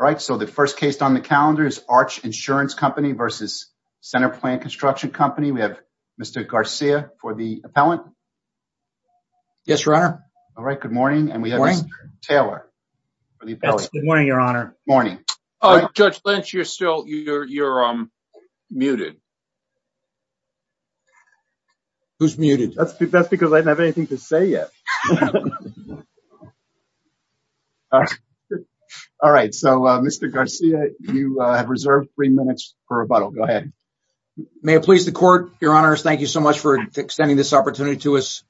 All right, so the first case on the calendar is Arch Insurance Company v. Centerplan Construction Company. We have Mr. Garcia for the appellant. Yes, Your Honor. All right, good morning. Good morning. And we have Mr. Taylor for the appellant. Good morning, Your Honor. Good morning. All right, Judge Lynch, you're muted. Who's muted? That's because I didn't have anything to say yet. All right. All right, so Mr. Garcia, you have reserved three minutes for rebuttal. Go ahead. May it please the Court, Your Honors, thank you so much for extending this opportunity to us.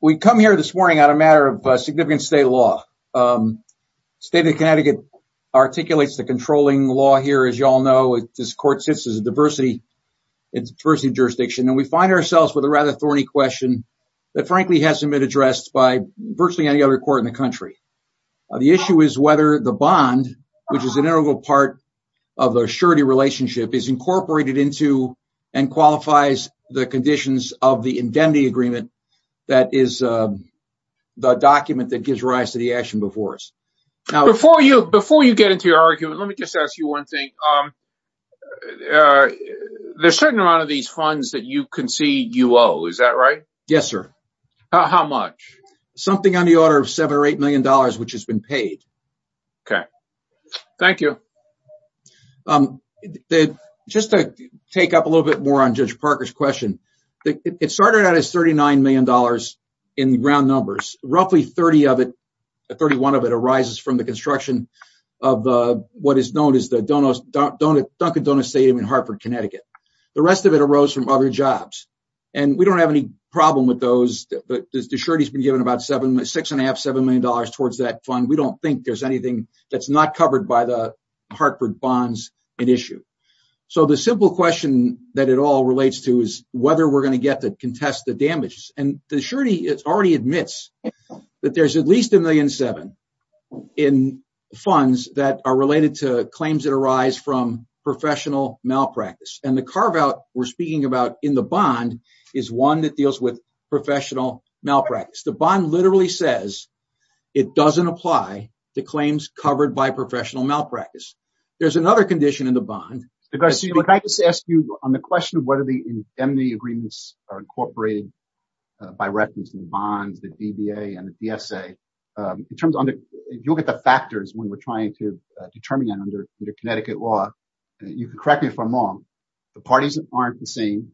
We come here this morning on a matter of significant state law. State of Connecticut articulates the controlling law here, as you all know. This court sits as a diversity jurisdiction, and we find ourselves with a rather thorny question that, frankly, hasn't been addressed by virtually any other court in the country. The issue is whether the bond, which is an integral part of the surety relationship, is incorporated into and qualifies the conditions of the indemnity agreement that is the document that gives rise to the action before us. Before you get into your argument, let me just ask you one thing. There's a certain amount of these funds that you concede you owe, is that right? Yes, sir. How much? Something on the order of $7 or $8 million, which has been paid. Okay. Thank you. Just to take up a little bit more on Judge Parker's question, it started out as $39 million in round numbers. Roughly 30 of it, 31 of it arises from the construction of what is known as the Dunkin' Donuts Stadium in Hartford, Connecticut. The rest of it arose from other jobs. We don't have any problem with those, but the surety has been given about $6.5, $7 million towards that fund. We don't think there's anything that's not covered by the Hartford bonds at issue. The simple question that it all relates to is whether we're going to get to contest the damages. The surety already admits that there's at least a $1.7 million in funds that are related to claims that arise from professional malpractice. The carve-out we're speaking about in the bond is one that deals with professional malpractice. The bond literally says it doesn't apply to claims covered by professional malpractice. There's another condition in the bond- By reference to the bonds, the DBA and the DSA, if you look at the factors when we're trying to determine it under Connecticut law, you can correct me if I'm wrong, the parties aren't the same.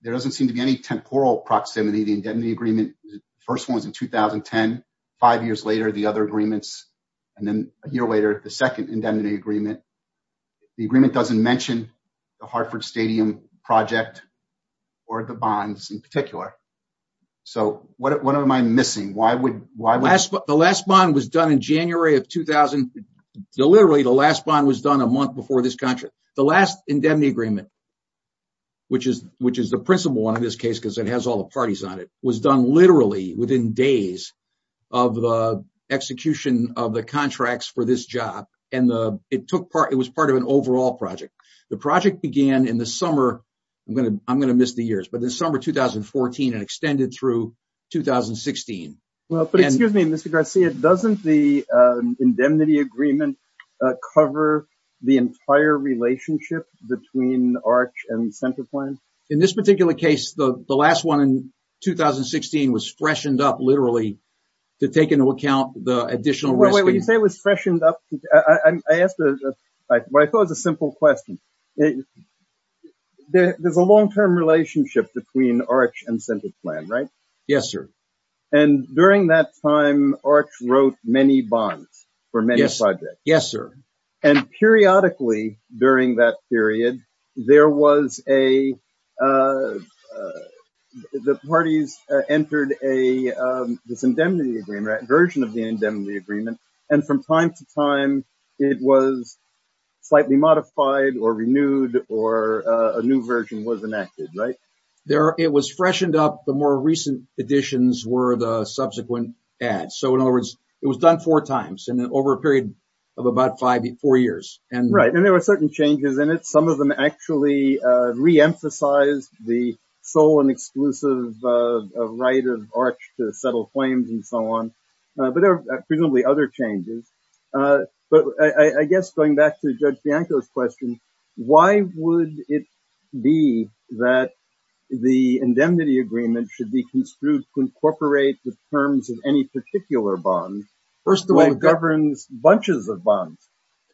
There doesn't seem to be any temporal proximity. The indemnity agreement, the first one was in 2010. Five years later, the other agreements, and then a year later, the second indemnity agreement. The agreement doesn't mention the Hartford Stadium project or the bonds in particular. What am I missing? Why would- The last bond was done in January of 2000, literally the last bond was done a month before this contract. The last indemnity agreement, which is the principal one in this case because it has all the parties on it, was done literally within days of the execution of the contracts for this job. It was part of an overall project. The project began in the summer. I'm going to miss the years, but the summer of 2014 and extended through 2016. Well, but excuse me, Mr. Garcia, doesn't the indemnity agreement cover the entire relationship between ARC and CenterPlan? In this particular case, the last one in 2016 was freshened up literally to take into account the additional- When you say it was freshened up, what I thought was a simple question, there's a long-term relationship between ARC and CenterPlan, right? Yes, sir. During that time, ARC wrote many bonds for many projects. Yes, sir. Periodically, during that period, the parties entered this indemnity agreement, version of the indemnity agreement, and from time to time, it was slightly modified or renewed or a new version was enacted, right? It was freshened up. The more recent additions were the subsequent ads. In other words, it was done four times over a period of about four years. Right. There were certain changes in it. Some of them actually reemphasized the sole and exclusive right of ARC to settle claims and so on, but there are presumably other changes. I guess going back to Judge Bianco's question, why would it be that the indemnity agreement should be construed to incorporate the terms of any particular bond that governs bunches of bonds?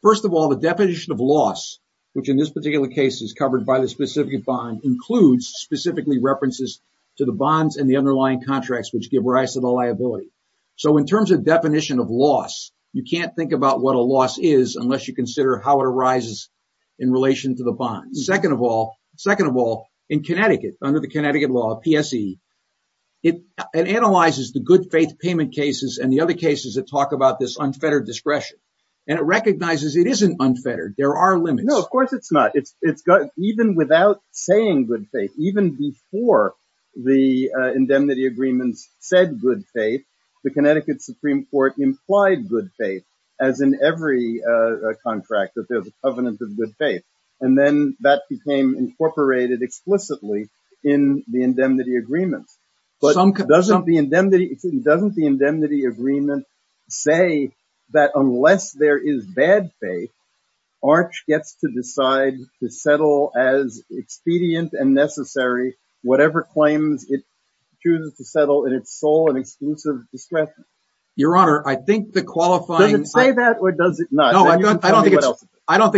First of all, the definition of loss, which in this particular case is covered by the specific bond, includes specifically references to the bonds and the underlying contracts which give rise to the liability. So in terms of definition of loss, you can't think about what a loss is unless you consider how it arises in relation to the bonds. Second of all, in Connecticut, under the Connecticut law, PSE, it analyzes the good faith payment cases and the other cases that talk about this unfettered discretion, and it recognizes it isn't unfettered. There are limits. No, of course it's not. Even without saying good faith, even before the indemnity agreements said good faith, the Connecticut Supreme Court implied good faith as in every contract that there's a covenant of good faith, and then that became incorporated explicitly in the indemnity agreements. But doesn't the indemnity agreement say that unless there is bad faith, ARC gets to decide to settle as expedient and necessary whatever claims it chooses to settle in its sole and exclusive discretion? Your Honor, I think the qualifying- Does it say that or does it not? No, I don't think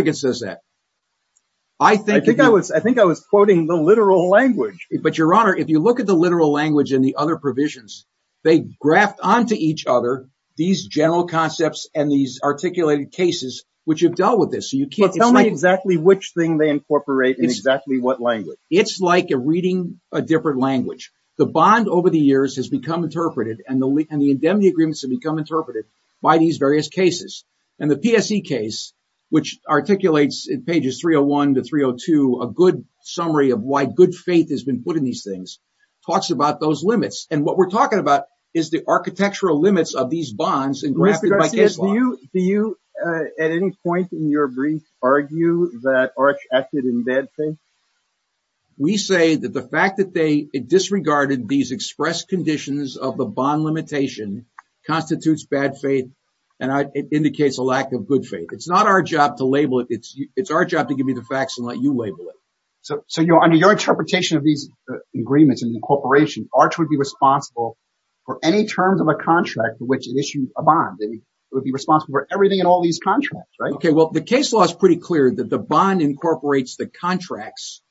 it says that. I think- I think I was quoting the literal language. But Your Honor, if you look at the literal language and the other provisions, they graft onto each other these general concepts and these articulated cases which have dealt with this. So you can't- But tell me exactly which thing they incorporate in exactly what language. It's like reading a different language. The bond over the years has become interpreted, and the indemnity agreements have become interpreted by these various cases. And the PSE case, which articulates in pages 301 to 302 a good summary of why good faith has been put in these things, talks about those limits. And what we're talking about is the architectural limits of these bonds and grafted by case law. Yes. Do you at any point in your brief argue that Arch acted in bad faith? We say that the fact that they disregarded these expressed conditions of the bond limitation constitutes bad faith, and it indicates a lack of good faith. It's not our job to label it. It's our job to give you the facts and let you label it. So under your interpretation of these agreements and incorporation, Arch would be responsible for any terms of a contract in which it issued a bond. It would be responsible for everything in all these contracts, right? Okay, well, the case law is pretty clear that the bond incorporates the contracts.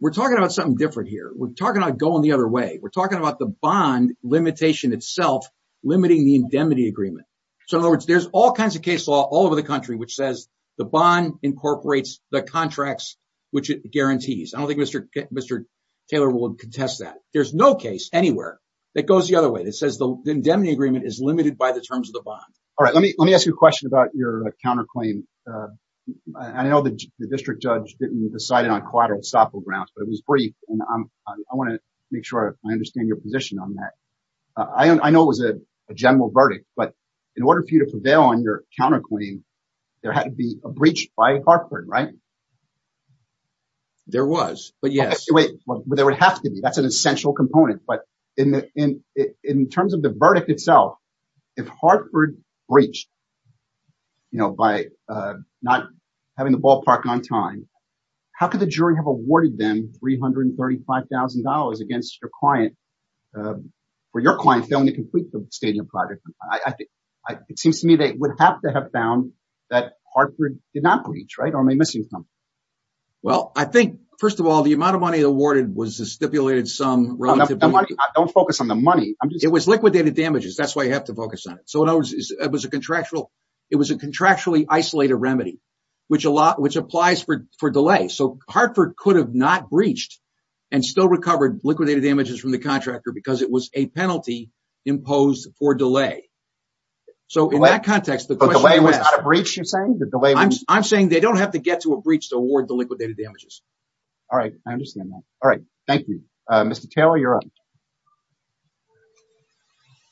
We're talking about something different here. We're talking about going the other way. We're talking about the bond limitation itself limiting the indemnity agreement. So in other words, there's all kinds of case law all over the country which says the bond incorporates the contracts which it guarantees. I don't think Mr. Taylor will contest that. There's no case anywhere that goes the other way that says the indemnity agreement is limited by the terms of the bond. All right, let me ask you a question about your counterclaim. I know the district judge didn't decide it on collateral estoppel grounds, but it was brief, and I want to make sure I understand your position on that. I know it was a general verdict, but in order for you to prevail on your counterclaim, there had to be a breach by Hartford, right? There was, but yes. Wait, there would have to be. That's an essential component. But in terms of the verdict itself, if Hartford breached, you know, by not having the ball parked on time, how could the jury have awarded them $335,000 against your client for your client failing to complete the stadium project? It seems to me they would have to have found that Hartford did not breach, right? Or am I missing something? Well, I think, first of all, the amount of money awarded was stipulated some relative to the money. Don't focus on the money. It was liquidated damages. That's why you have to focus on it. So it was a contractually isolated remedy, which applies for delay. So Hartford could have not breached and still recovered liquidated damages from the contractor because it was a penalty imposed for delay. So in that context, the delay was not a breach, you're saying? I'm saying they don't have to get to a breach to award the liquidated damages. All right. I understand that. All right. Thank you. Mr. Taylor, you're up.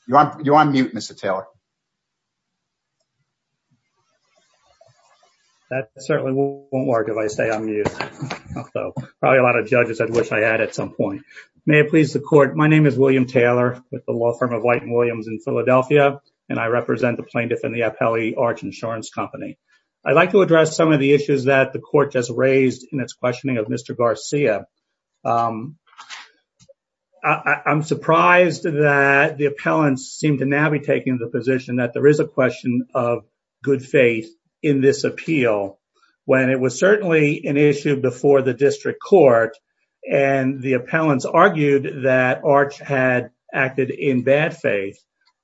You're on mute, Mr. Taylor. That certainly won't work if I stay on mute. Probably a lot of judges I'd wish I had at some point. May it please the court. My name is William Taylor with the law firm of White and Williams in Philadelphia, and I represent the plaintiff and the appellee, Arch Insurance Company. I'd like to address some of the issues that the court just raised in its questioning of Mr. Garcia. I'm surprised that the appellants seem to now be taking the position that there is a question of good faith in this appeal when it was certainly an issue before the district court and the appellants argued that Arch had acted in bad faith.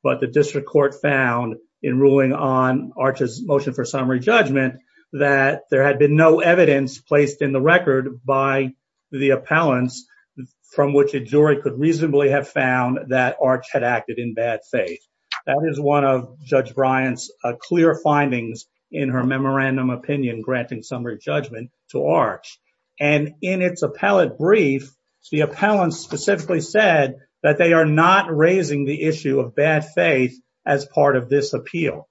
But the district court found in ruling on Arch's motion for summary judgment that there had been no evidence placed in the record by the appellants from which a jury could reasonably have found that Arch had acted in bad faith. That is one of Judge Bryant's clear findings in her memorandum opinion granting summary judgment to Arch. And in its appellate brief, the appellants specifically said that they are not raising the issue of bad faith as part of this appeal.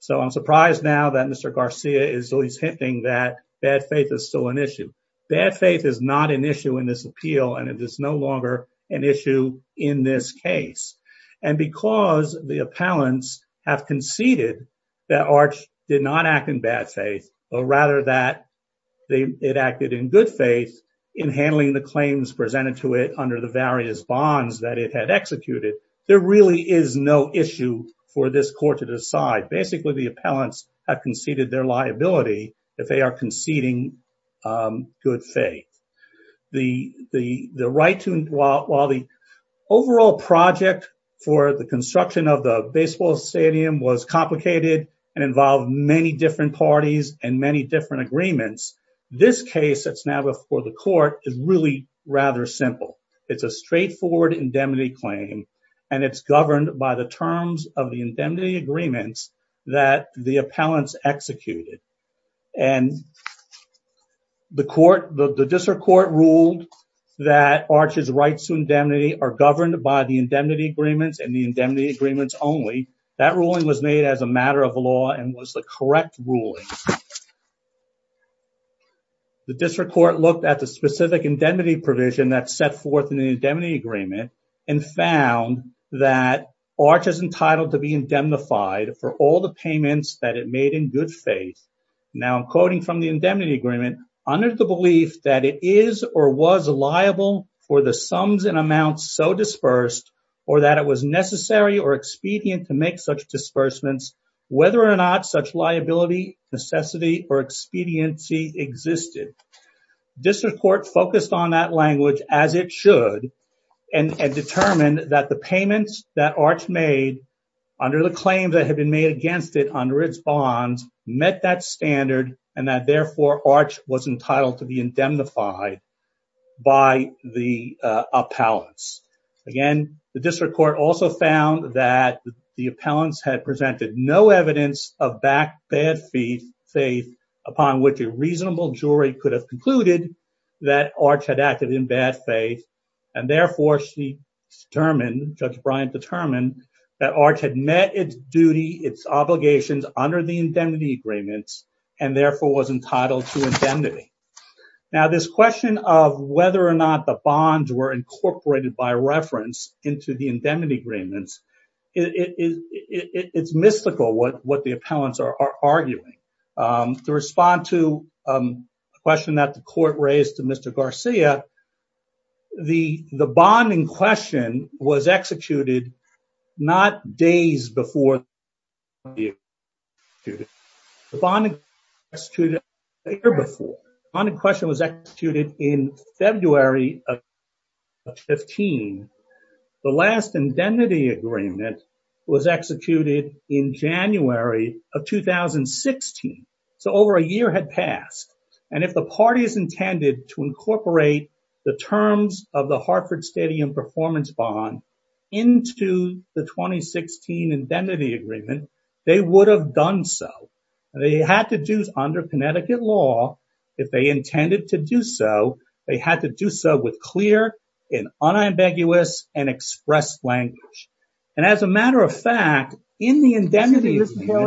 So I'm surprised now that Mr. Garcia is always hinting that bad faith is still an issue. Bad faith is not an issue in this appeal, and it is no longer an issue in this case. And because the appellants have conceded that Arch did not act in bad faith, but rather that it acted in good faith in handling the claims presented to it under the various bonds that it had executed, there really is no issue for this court to decide. Basically, the appellants have conceded their liability if they are conceding good faith. The right to, while the overall project for the construction of the baseball stadium was complicated and involved many different parties and many different agreements, this case that's now before the court is really rather simple. It's a straightforward indemnity claim, and it's governed by the terms of the indemnity agreements that the appellants executed. And the district court ruled that Arch's rights to indemnity are governed by the indemnity agreements and the indemnity agreements only. That ruling was made as a matter of law and was the correct ruling. The district court looked at the specific indemnity provision that's set forth in the indemnity agreement and found that Arch is entitled to be indemnified for all the payments that it made in good faith. Now, I'm quoting from the indemnity agreement, under the belief that it is or was liable for the sums and amounts so dispersed or that it was necessary or expedient to make such or expediency existed. District court focused on that language as it should and determined that the payments that Arch made under the claims that have been made against it under its bonds met that standard and that therefore Arch was entitled to be indemnified by the appellants. Again, the district court also found that the appellants had presented no evidence of bad faith upon which a reasonable jury could have concluded that Arch had acted in bad faith and therefore she determined, Judge Bryant determined that Arch had met its duty, its obligations under the indemnity agreements and therefore was entitled to indemnity. Now, this question of whether or not the bonds were incorporated by reference into the indemnity agreements, it's mystical what the appellants are arguing. To respond to a question that the court raised to Mr. Garcia, the bonding question was executed not days before the bond was executed, the bonding question was executed a year before. The bond was executed in January of 2016, so over a year had passed and if the parties intended to incorporate the terms of the Hartford Stadium Performance Bond into the 2016 indemnity agreement, they would have done so. They had to do under Connecticut law, if they intended to do so, they had to do so with an unambiguous and expressed language. And as a matter of fact, in the indemnity agreement... Excuse me, Mr.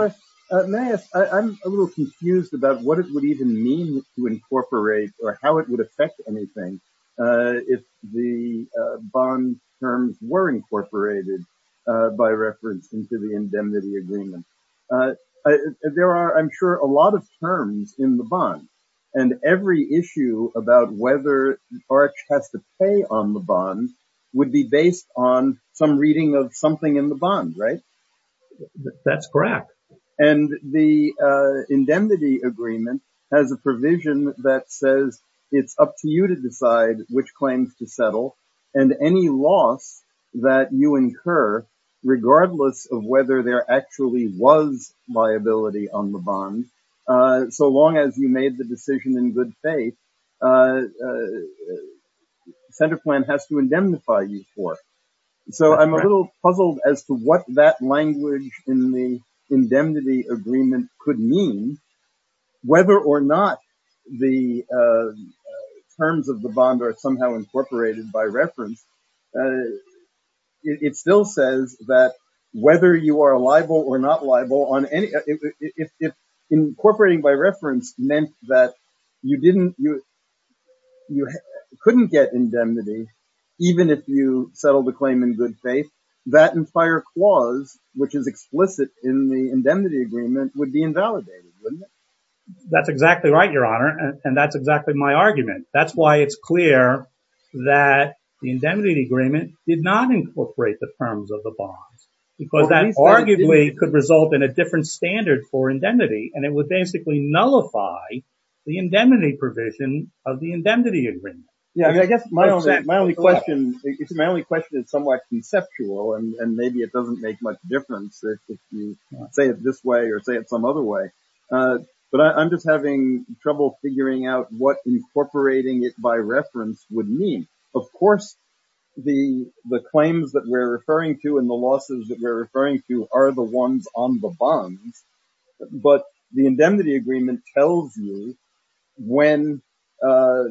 Taylor, may I ask, I'm a little confused about what it would even mean to incorporate or how it would affect anything if the bond terms were incorporated by reference into the indemnity agreement. There are, I'm sure, a lot of terms in the bond and every issue about whether Arch has to pay on the bond would be based on some reading of something in the bond, right? That's correct. And the indemnity agreement has a provision that says it's up to you to decide which claims to settle and any loss that you incur, regardless of whether there actually was liability on the bond, so long as you made the decision in good faith, the center plan has to indemnify you for. So I'm a little puzzled as to what that language in the indemnity agreement could mean, whether or not the terms of the bond are somehow incorporated by reference. It still says that whether you are liable or not liable on any... Incorporating by reference meant that you couldn't get indemnity even if you settled the claim in good faith. That entire clause, which is explicit in the indemnity agreement, would be invalidated, wouldn't it? That's exactly right, Your Honor. And that's exactly my argument. That's why it's clear that the indemnity agreement did not incorporate the terms of the bonds, because that arguably could result in a different standard for indemnity, and it would basically nullify the indemnity provision of the indemnity agreement. Yeah, I guess my only question is somewhat conceptual, and maybe it doesn't make much difference if you say it this way or say it some other way. But I'm just having trouble figuring out what incorporating it by reference would mean. Of course, the claims that we're referring to and the losses that we're referring to are the ones on the bonds. But the indemnity agreement tells you when a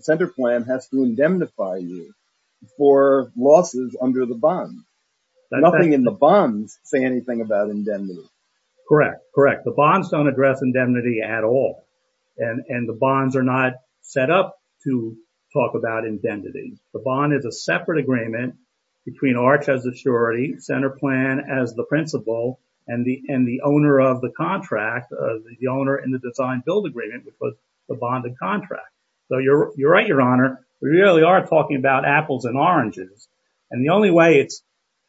center plan has to indemnify you for losses under the bond. Nothing in the bonds say anything about indemnity. Correct, correct. The bonds don't address indemnity at all, and the bonds are not set up to talk about indemnity. The bond is a separate agreement between Arch as the surety, center plan as the principal, and the owner of the contract, the owner in the design-build agreement, which was the bond and contract. So you're right, Your Honor, we really are talking about apples and oranges. And the only way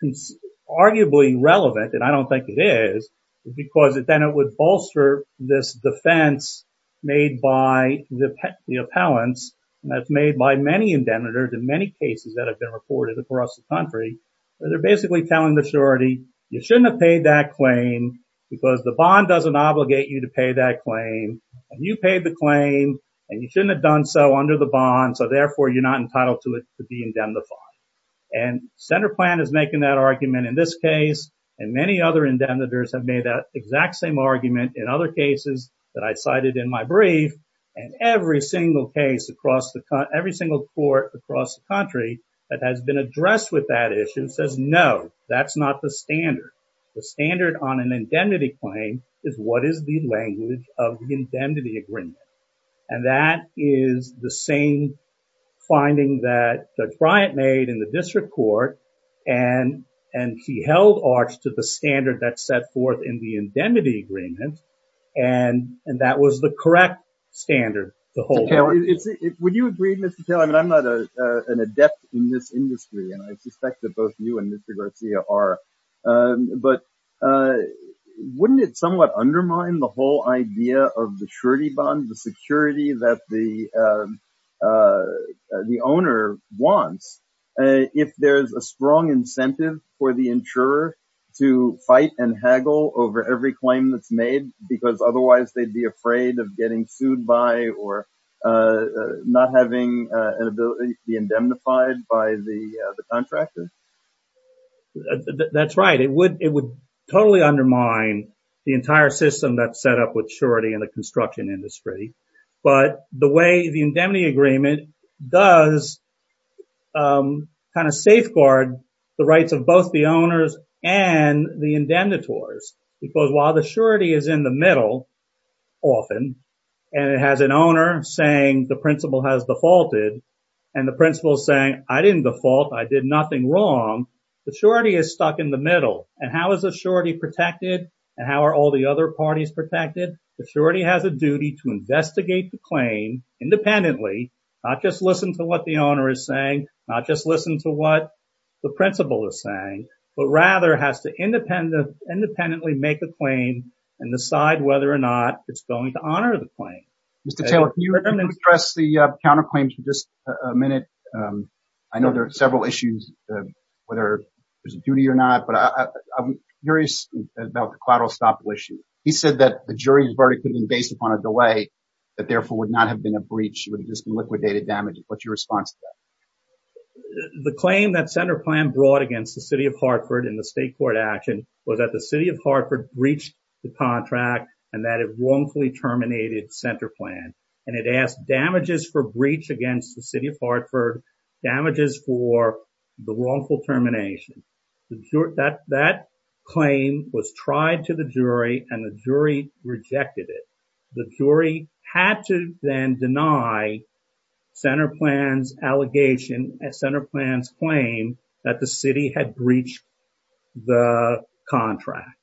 it's arguably relevant, and I don't think it is, is because then it would bolster this defense made by the appellants, and that's made by many indemnitors in many cases that have been reported across the country, where they're basically telling the surety, you shouldn't have paid that claim because the bond doesn't obligate you to pay that claim. And you paid the claim, and you shouldn't have done so under the bond, so therefore, you're not entitled to it to be indemnified. And center plan is making that argument in this case, and many other indemnitors have made that exact same argument in other cases that I cited in my brief, and every single case across the country, every single court across the country that has been addressed with that issue says, no, that's not the standard. The standard on an indemnity claim is what is the language of the indemnity agreement. And that is the same finding that Judge Bryant made in the district court, and he held Arch to the standard that's set forth in the indemnity agreement, and that was the correct standard to hold on to. Mr. Taylor, would you agree, Mr. Taylor, and I'm not an adept in this industry, and I suspect that both you and Mr. Garcia are, but wouldn't it somewhat undermine the whole idea of the surety bond, the security that the owner wants if there's a strong incentive for the insurer to fight and haggle over every claim that's made, because otherwise they'd be afraid of getting sued by or not having an ability to be indemnified by the contractor? That's right. It would totally undermine the entire system that's set up with surety in the construction industry, but the way the indemnity agreement does kind of safeguard the rights of both the owners and the indemnitors, because while the surety is in the middle often, and it has an owner saying the principal has defaulted, and the principal is saying, I didn't default, I did nothing wrong, the surety is stuck in the middle. And how is the surety protected, and how are all the other parties protected? The surety has a duty to investigate the claim independently, not just listen to what the owner is saying, not just listen to what the principal is saying, but rather has to independently make a claim and decide whether or not it's going to honor the claim. Mr. Taylor, can you address the counterclaims for just a minute? I know there are several issues, whether there's a duty or not, but I'm curious about the collateral estoppel issue. He said that the jury's verdict could have been based upon a delay, that therefore would not have been a breach, it would have just been liquidated damages. What's your response to that? The claim that CenterPlan brought against the city of Hartford in the state court action was that the city of Hartford breached the contract and that it wrongfully terminated CenterPlan, and it asked damages for breach against the city of Hartford, damages for the wrongful termination. That claim was tried to the jury and the jury rejected it. The jury had to then deny CenterPlan's allegation, CenterPlan's claim that the city had breached the contract,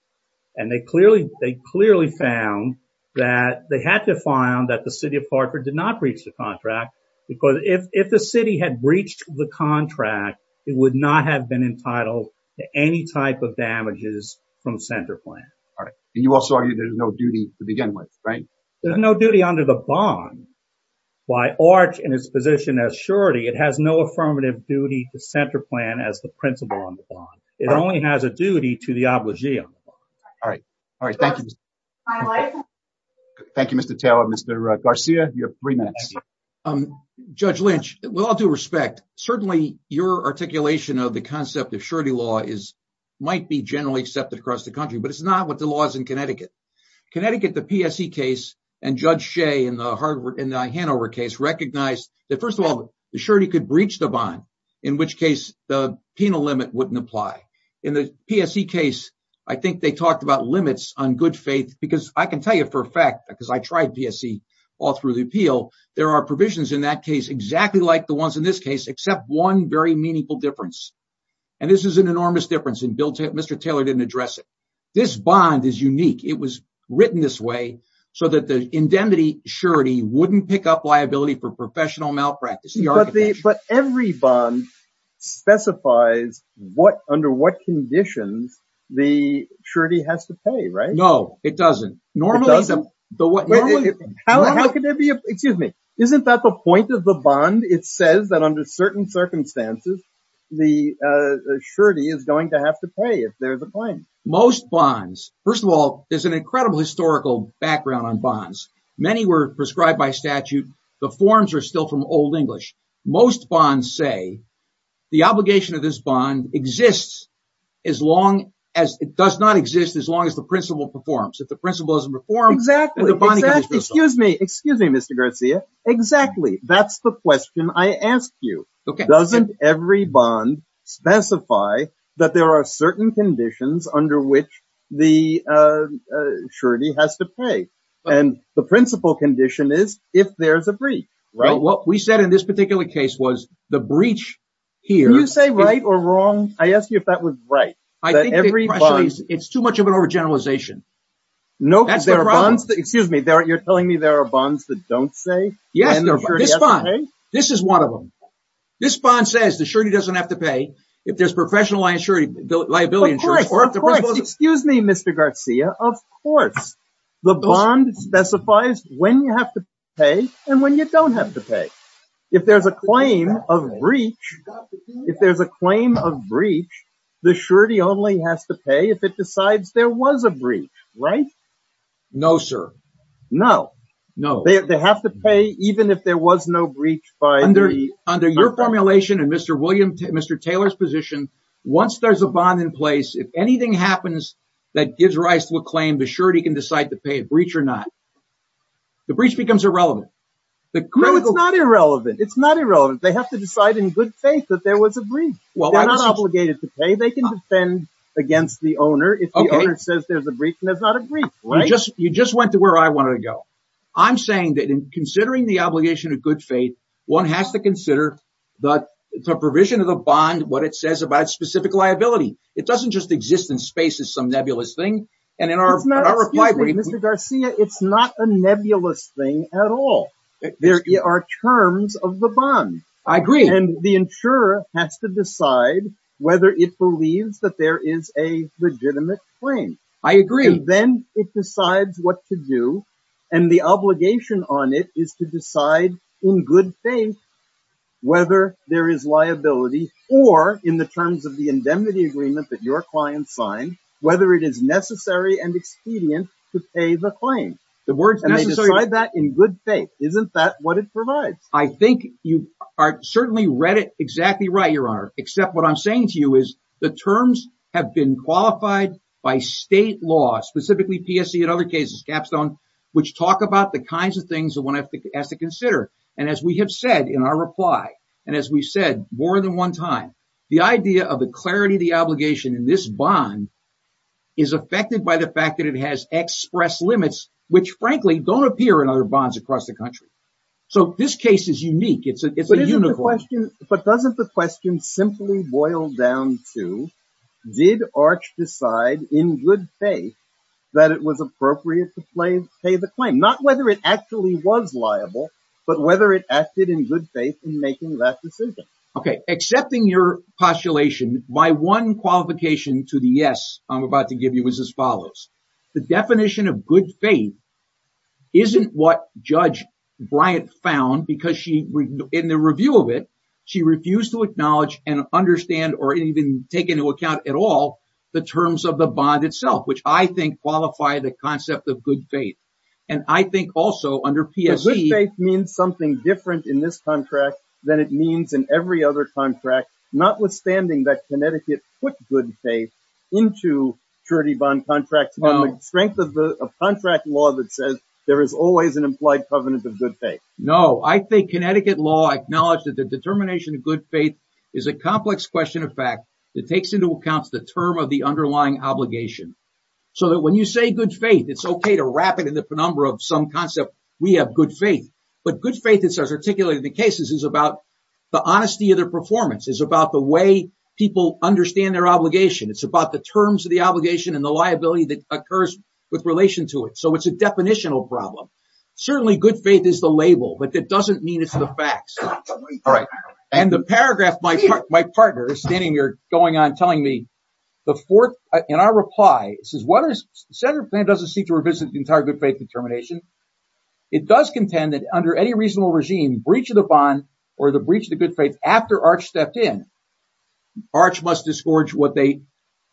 and they clearly found that they had to find that the city of Hartford did not breach the contract because if the city had breached the contract, it would not have been entitled to any type of damages from CenterPlan. All right. And you also argue there's no duty to begin with, right? There's no duty under the bond by Arch and his position as surety. It has no affirmative duty to CenterPlan as the principal on the bond. It only has a duty to the obligee on the bond. All right. All right. Thank you, Mr. Taylor. Thank you, Mr. Taylor. Mr. Garcia, you have three minutes. Um, Judge Lynch, with all due respect, certainly your articulation of the concept of surety law might be generally accepted across the country, but it's not what the law is in Connecticut. Connecticut, the PSE case and Judge Shea in the Hanover case recognized that, first of all, the surety could breach the bond, in which case the penal limit wouldn't apply. In the PSE case, I think they talked about limits on good faith because I can tell you for a fact, because I tried PSE all through the appeal. There are provisions in that case exactly like the ones in this case, except one very meaningful difference. And this is an enormous difference and Mr. Taylor didn't address it. This bond is unique. It was written this way so that the indemnity surety wouldn't pick up liability for professional malpractice. But every bond specifies what, under what conditions the surety has to pay, right? No, it doesn't. It doesn't. Excuse me. Isn't that the point of the bond? It says that under certain circumstances, the surety is going to have to pay if there's a claim. Most bonds, first of all, there's an incredible historical background on bonds. Many were prescribed by statute. The forms are still from Old English. Most bonds say the obligation of this bond exists as long as it does not exist as long the principal performs. If the principal doesn't perform, the bond becomes useless. Excuse me. Excuse me, Mr. Garcia. Exactly. That's the question I asked you. Doesn't every bond specify that there are certain conditions under which the surety has to pay? And the principal condition is if there's a breach, right? What we said in this particular case was the breach here. Can you say right or wrong? I asked you if that was right. I think it's too much of an overgeneralization. Excuse me. You're telling me there are bonds that don't say? Yes, this bond. This is one of them. This bond says the surety doesn't have to pay if there's professional liability insurance. Of course. Excuse me, Mr. Garcia. Of course. The bond specifies when you have to pay and when you don't have to pay. If there's a claim of breach, if there's a claim of breach, the surety only has to pay if it decides there was a breach, right? No, sir. No. No. They have to pay even if there was no breach. Under your formulation and Mr. Taylor's position, once there's a bond in place, if anything happens that gives rise to a claim, the surety can decide to pay a breach or not. The breach becomes irrelevant. No, it's not irrelevant. It's not irrelevant. They have to decide in good faith that there was a breach. Well, they're not obligated to pay. They can defend against the owner if the owner says there's a breach and there's not a breach, right? You just went to where I wanted to go. I'm saying that in considering the obligation of good faith, one has to consider the provision of the bond, what it says about specific liability. It doesn't just exist in space as some nebulous thing. It's not, excuse me, Mr. Garcia, it's not a nebulous thing at all. There are terms of the bond. I agree. And the insurer has to decide whether it believes that there is a legitimate claim. I agree. Then it decides what to do and the obligation on it is to decide in good faith whether there is liability or in the terms of the indemnity agreement that your client signed, whether it is necessary and expedient to pay the claim. The word is necessary. And they decide that in good faith. Isn't that what it provides? I think you certainly read it exactly right, Your Honor. Except what I'm saying to you is the terms have been qualified by state law, specifically PSC and other cases, Capstone, which talk about the kinds of things that one has to consider. And as we have said in our reply, and as we've said more than one time, the idea of the clarity of the obligation in this bond is affected by the fact that it has express limits, which frankly don't appear in other bonds across the country. So this case is unique. It's a unicorn. But doesn't the question simply boil down to, did Arch decide in good faith that it was appropriate to pay the claim? Not whether it actually was liable, but whether it acted in good faith in making that decision. Okay. Accepting your postulation by one qualification to the yes, I'm about to give you is as follows. The definition of good faith isn't what Judge Bryant found because she, in the review of it, she refused to acknowledge and understand or even take into account at all, the terms of the bond itself, which I think qualify the concept of good faith. And I think also under PSC... But good faith means something different in this contract than it means in every other contract, notwithstanding that Connecticut put good faith into purity bond contracts. On the strength of contract law that says there is always an implied covenant of good faith. No, I think Connecticut law acknowledged that the determination of good faith is a complex question of fact that takes into account the term of the underlying obligation. So that when you say good faith, it's okay to wrap it in the penumbra of some concept. We have good faith. But good faith, as articulated in the cases, is about the honesty of their performance, is about the way people understand their obligation. It's about the terms of the obligation and the liability that occurs with relation to it. So it's a definitional problem. Certainly good faith is the label, but that doesn't mean it's the facts. All right. And the paragraph my partner is standing here going on telling me, in our reply, it says, Senate plan doesn't seek to revisit the entire good faith determination. It does contend that under any reasonable regime, breach of the bond or the breach of the good faith, after Arch stepped in, Arch must disgorge what they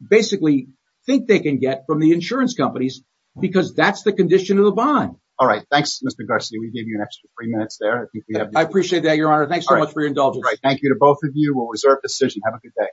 basically think they can get from the insurance companies because that's the condition of the bond. All right. Thanks, Mr. Garcia. We gave you an extra three minutes there. I appreciate that, your honor. Thanks so much for your indulgence. Thank you to both of you. We'll reserve decision. Have a good day.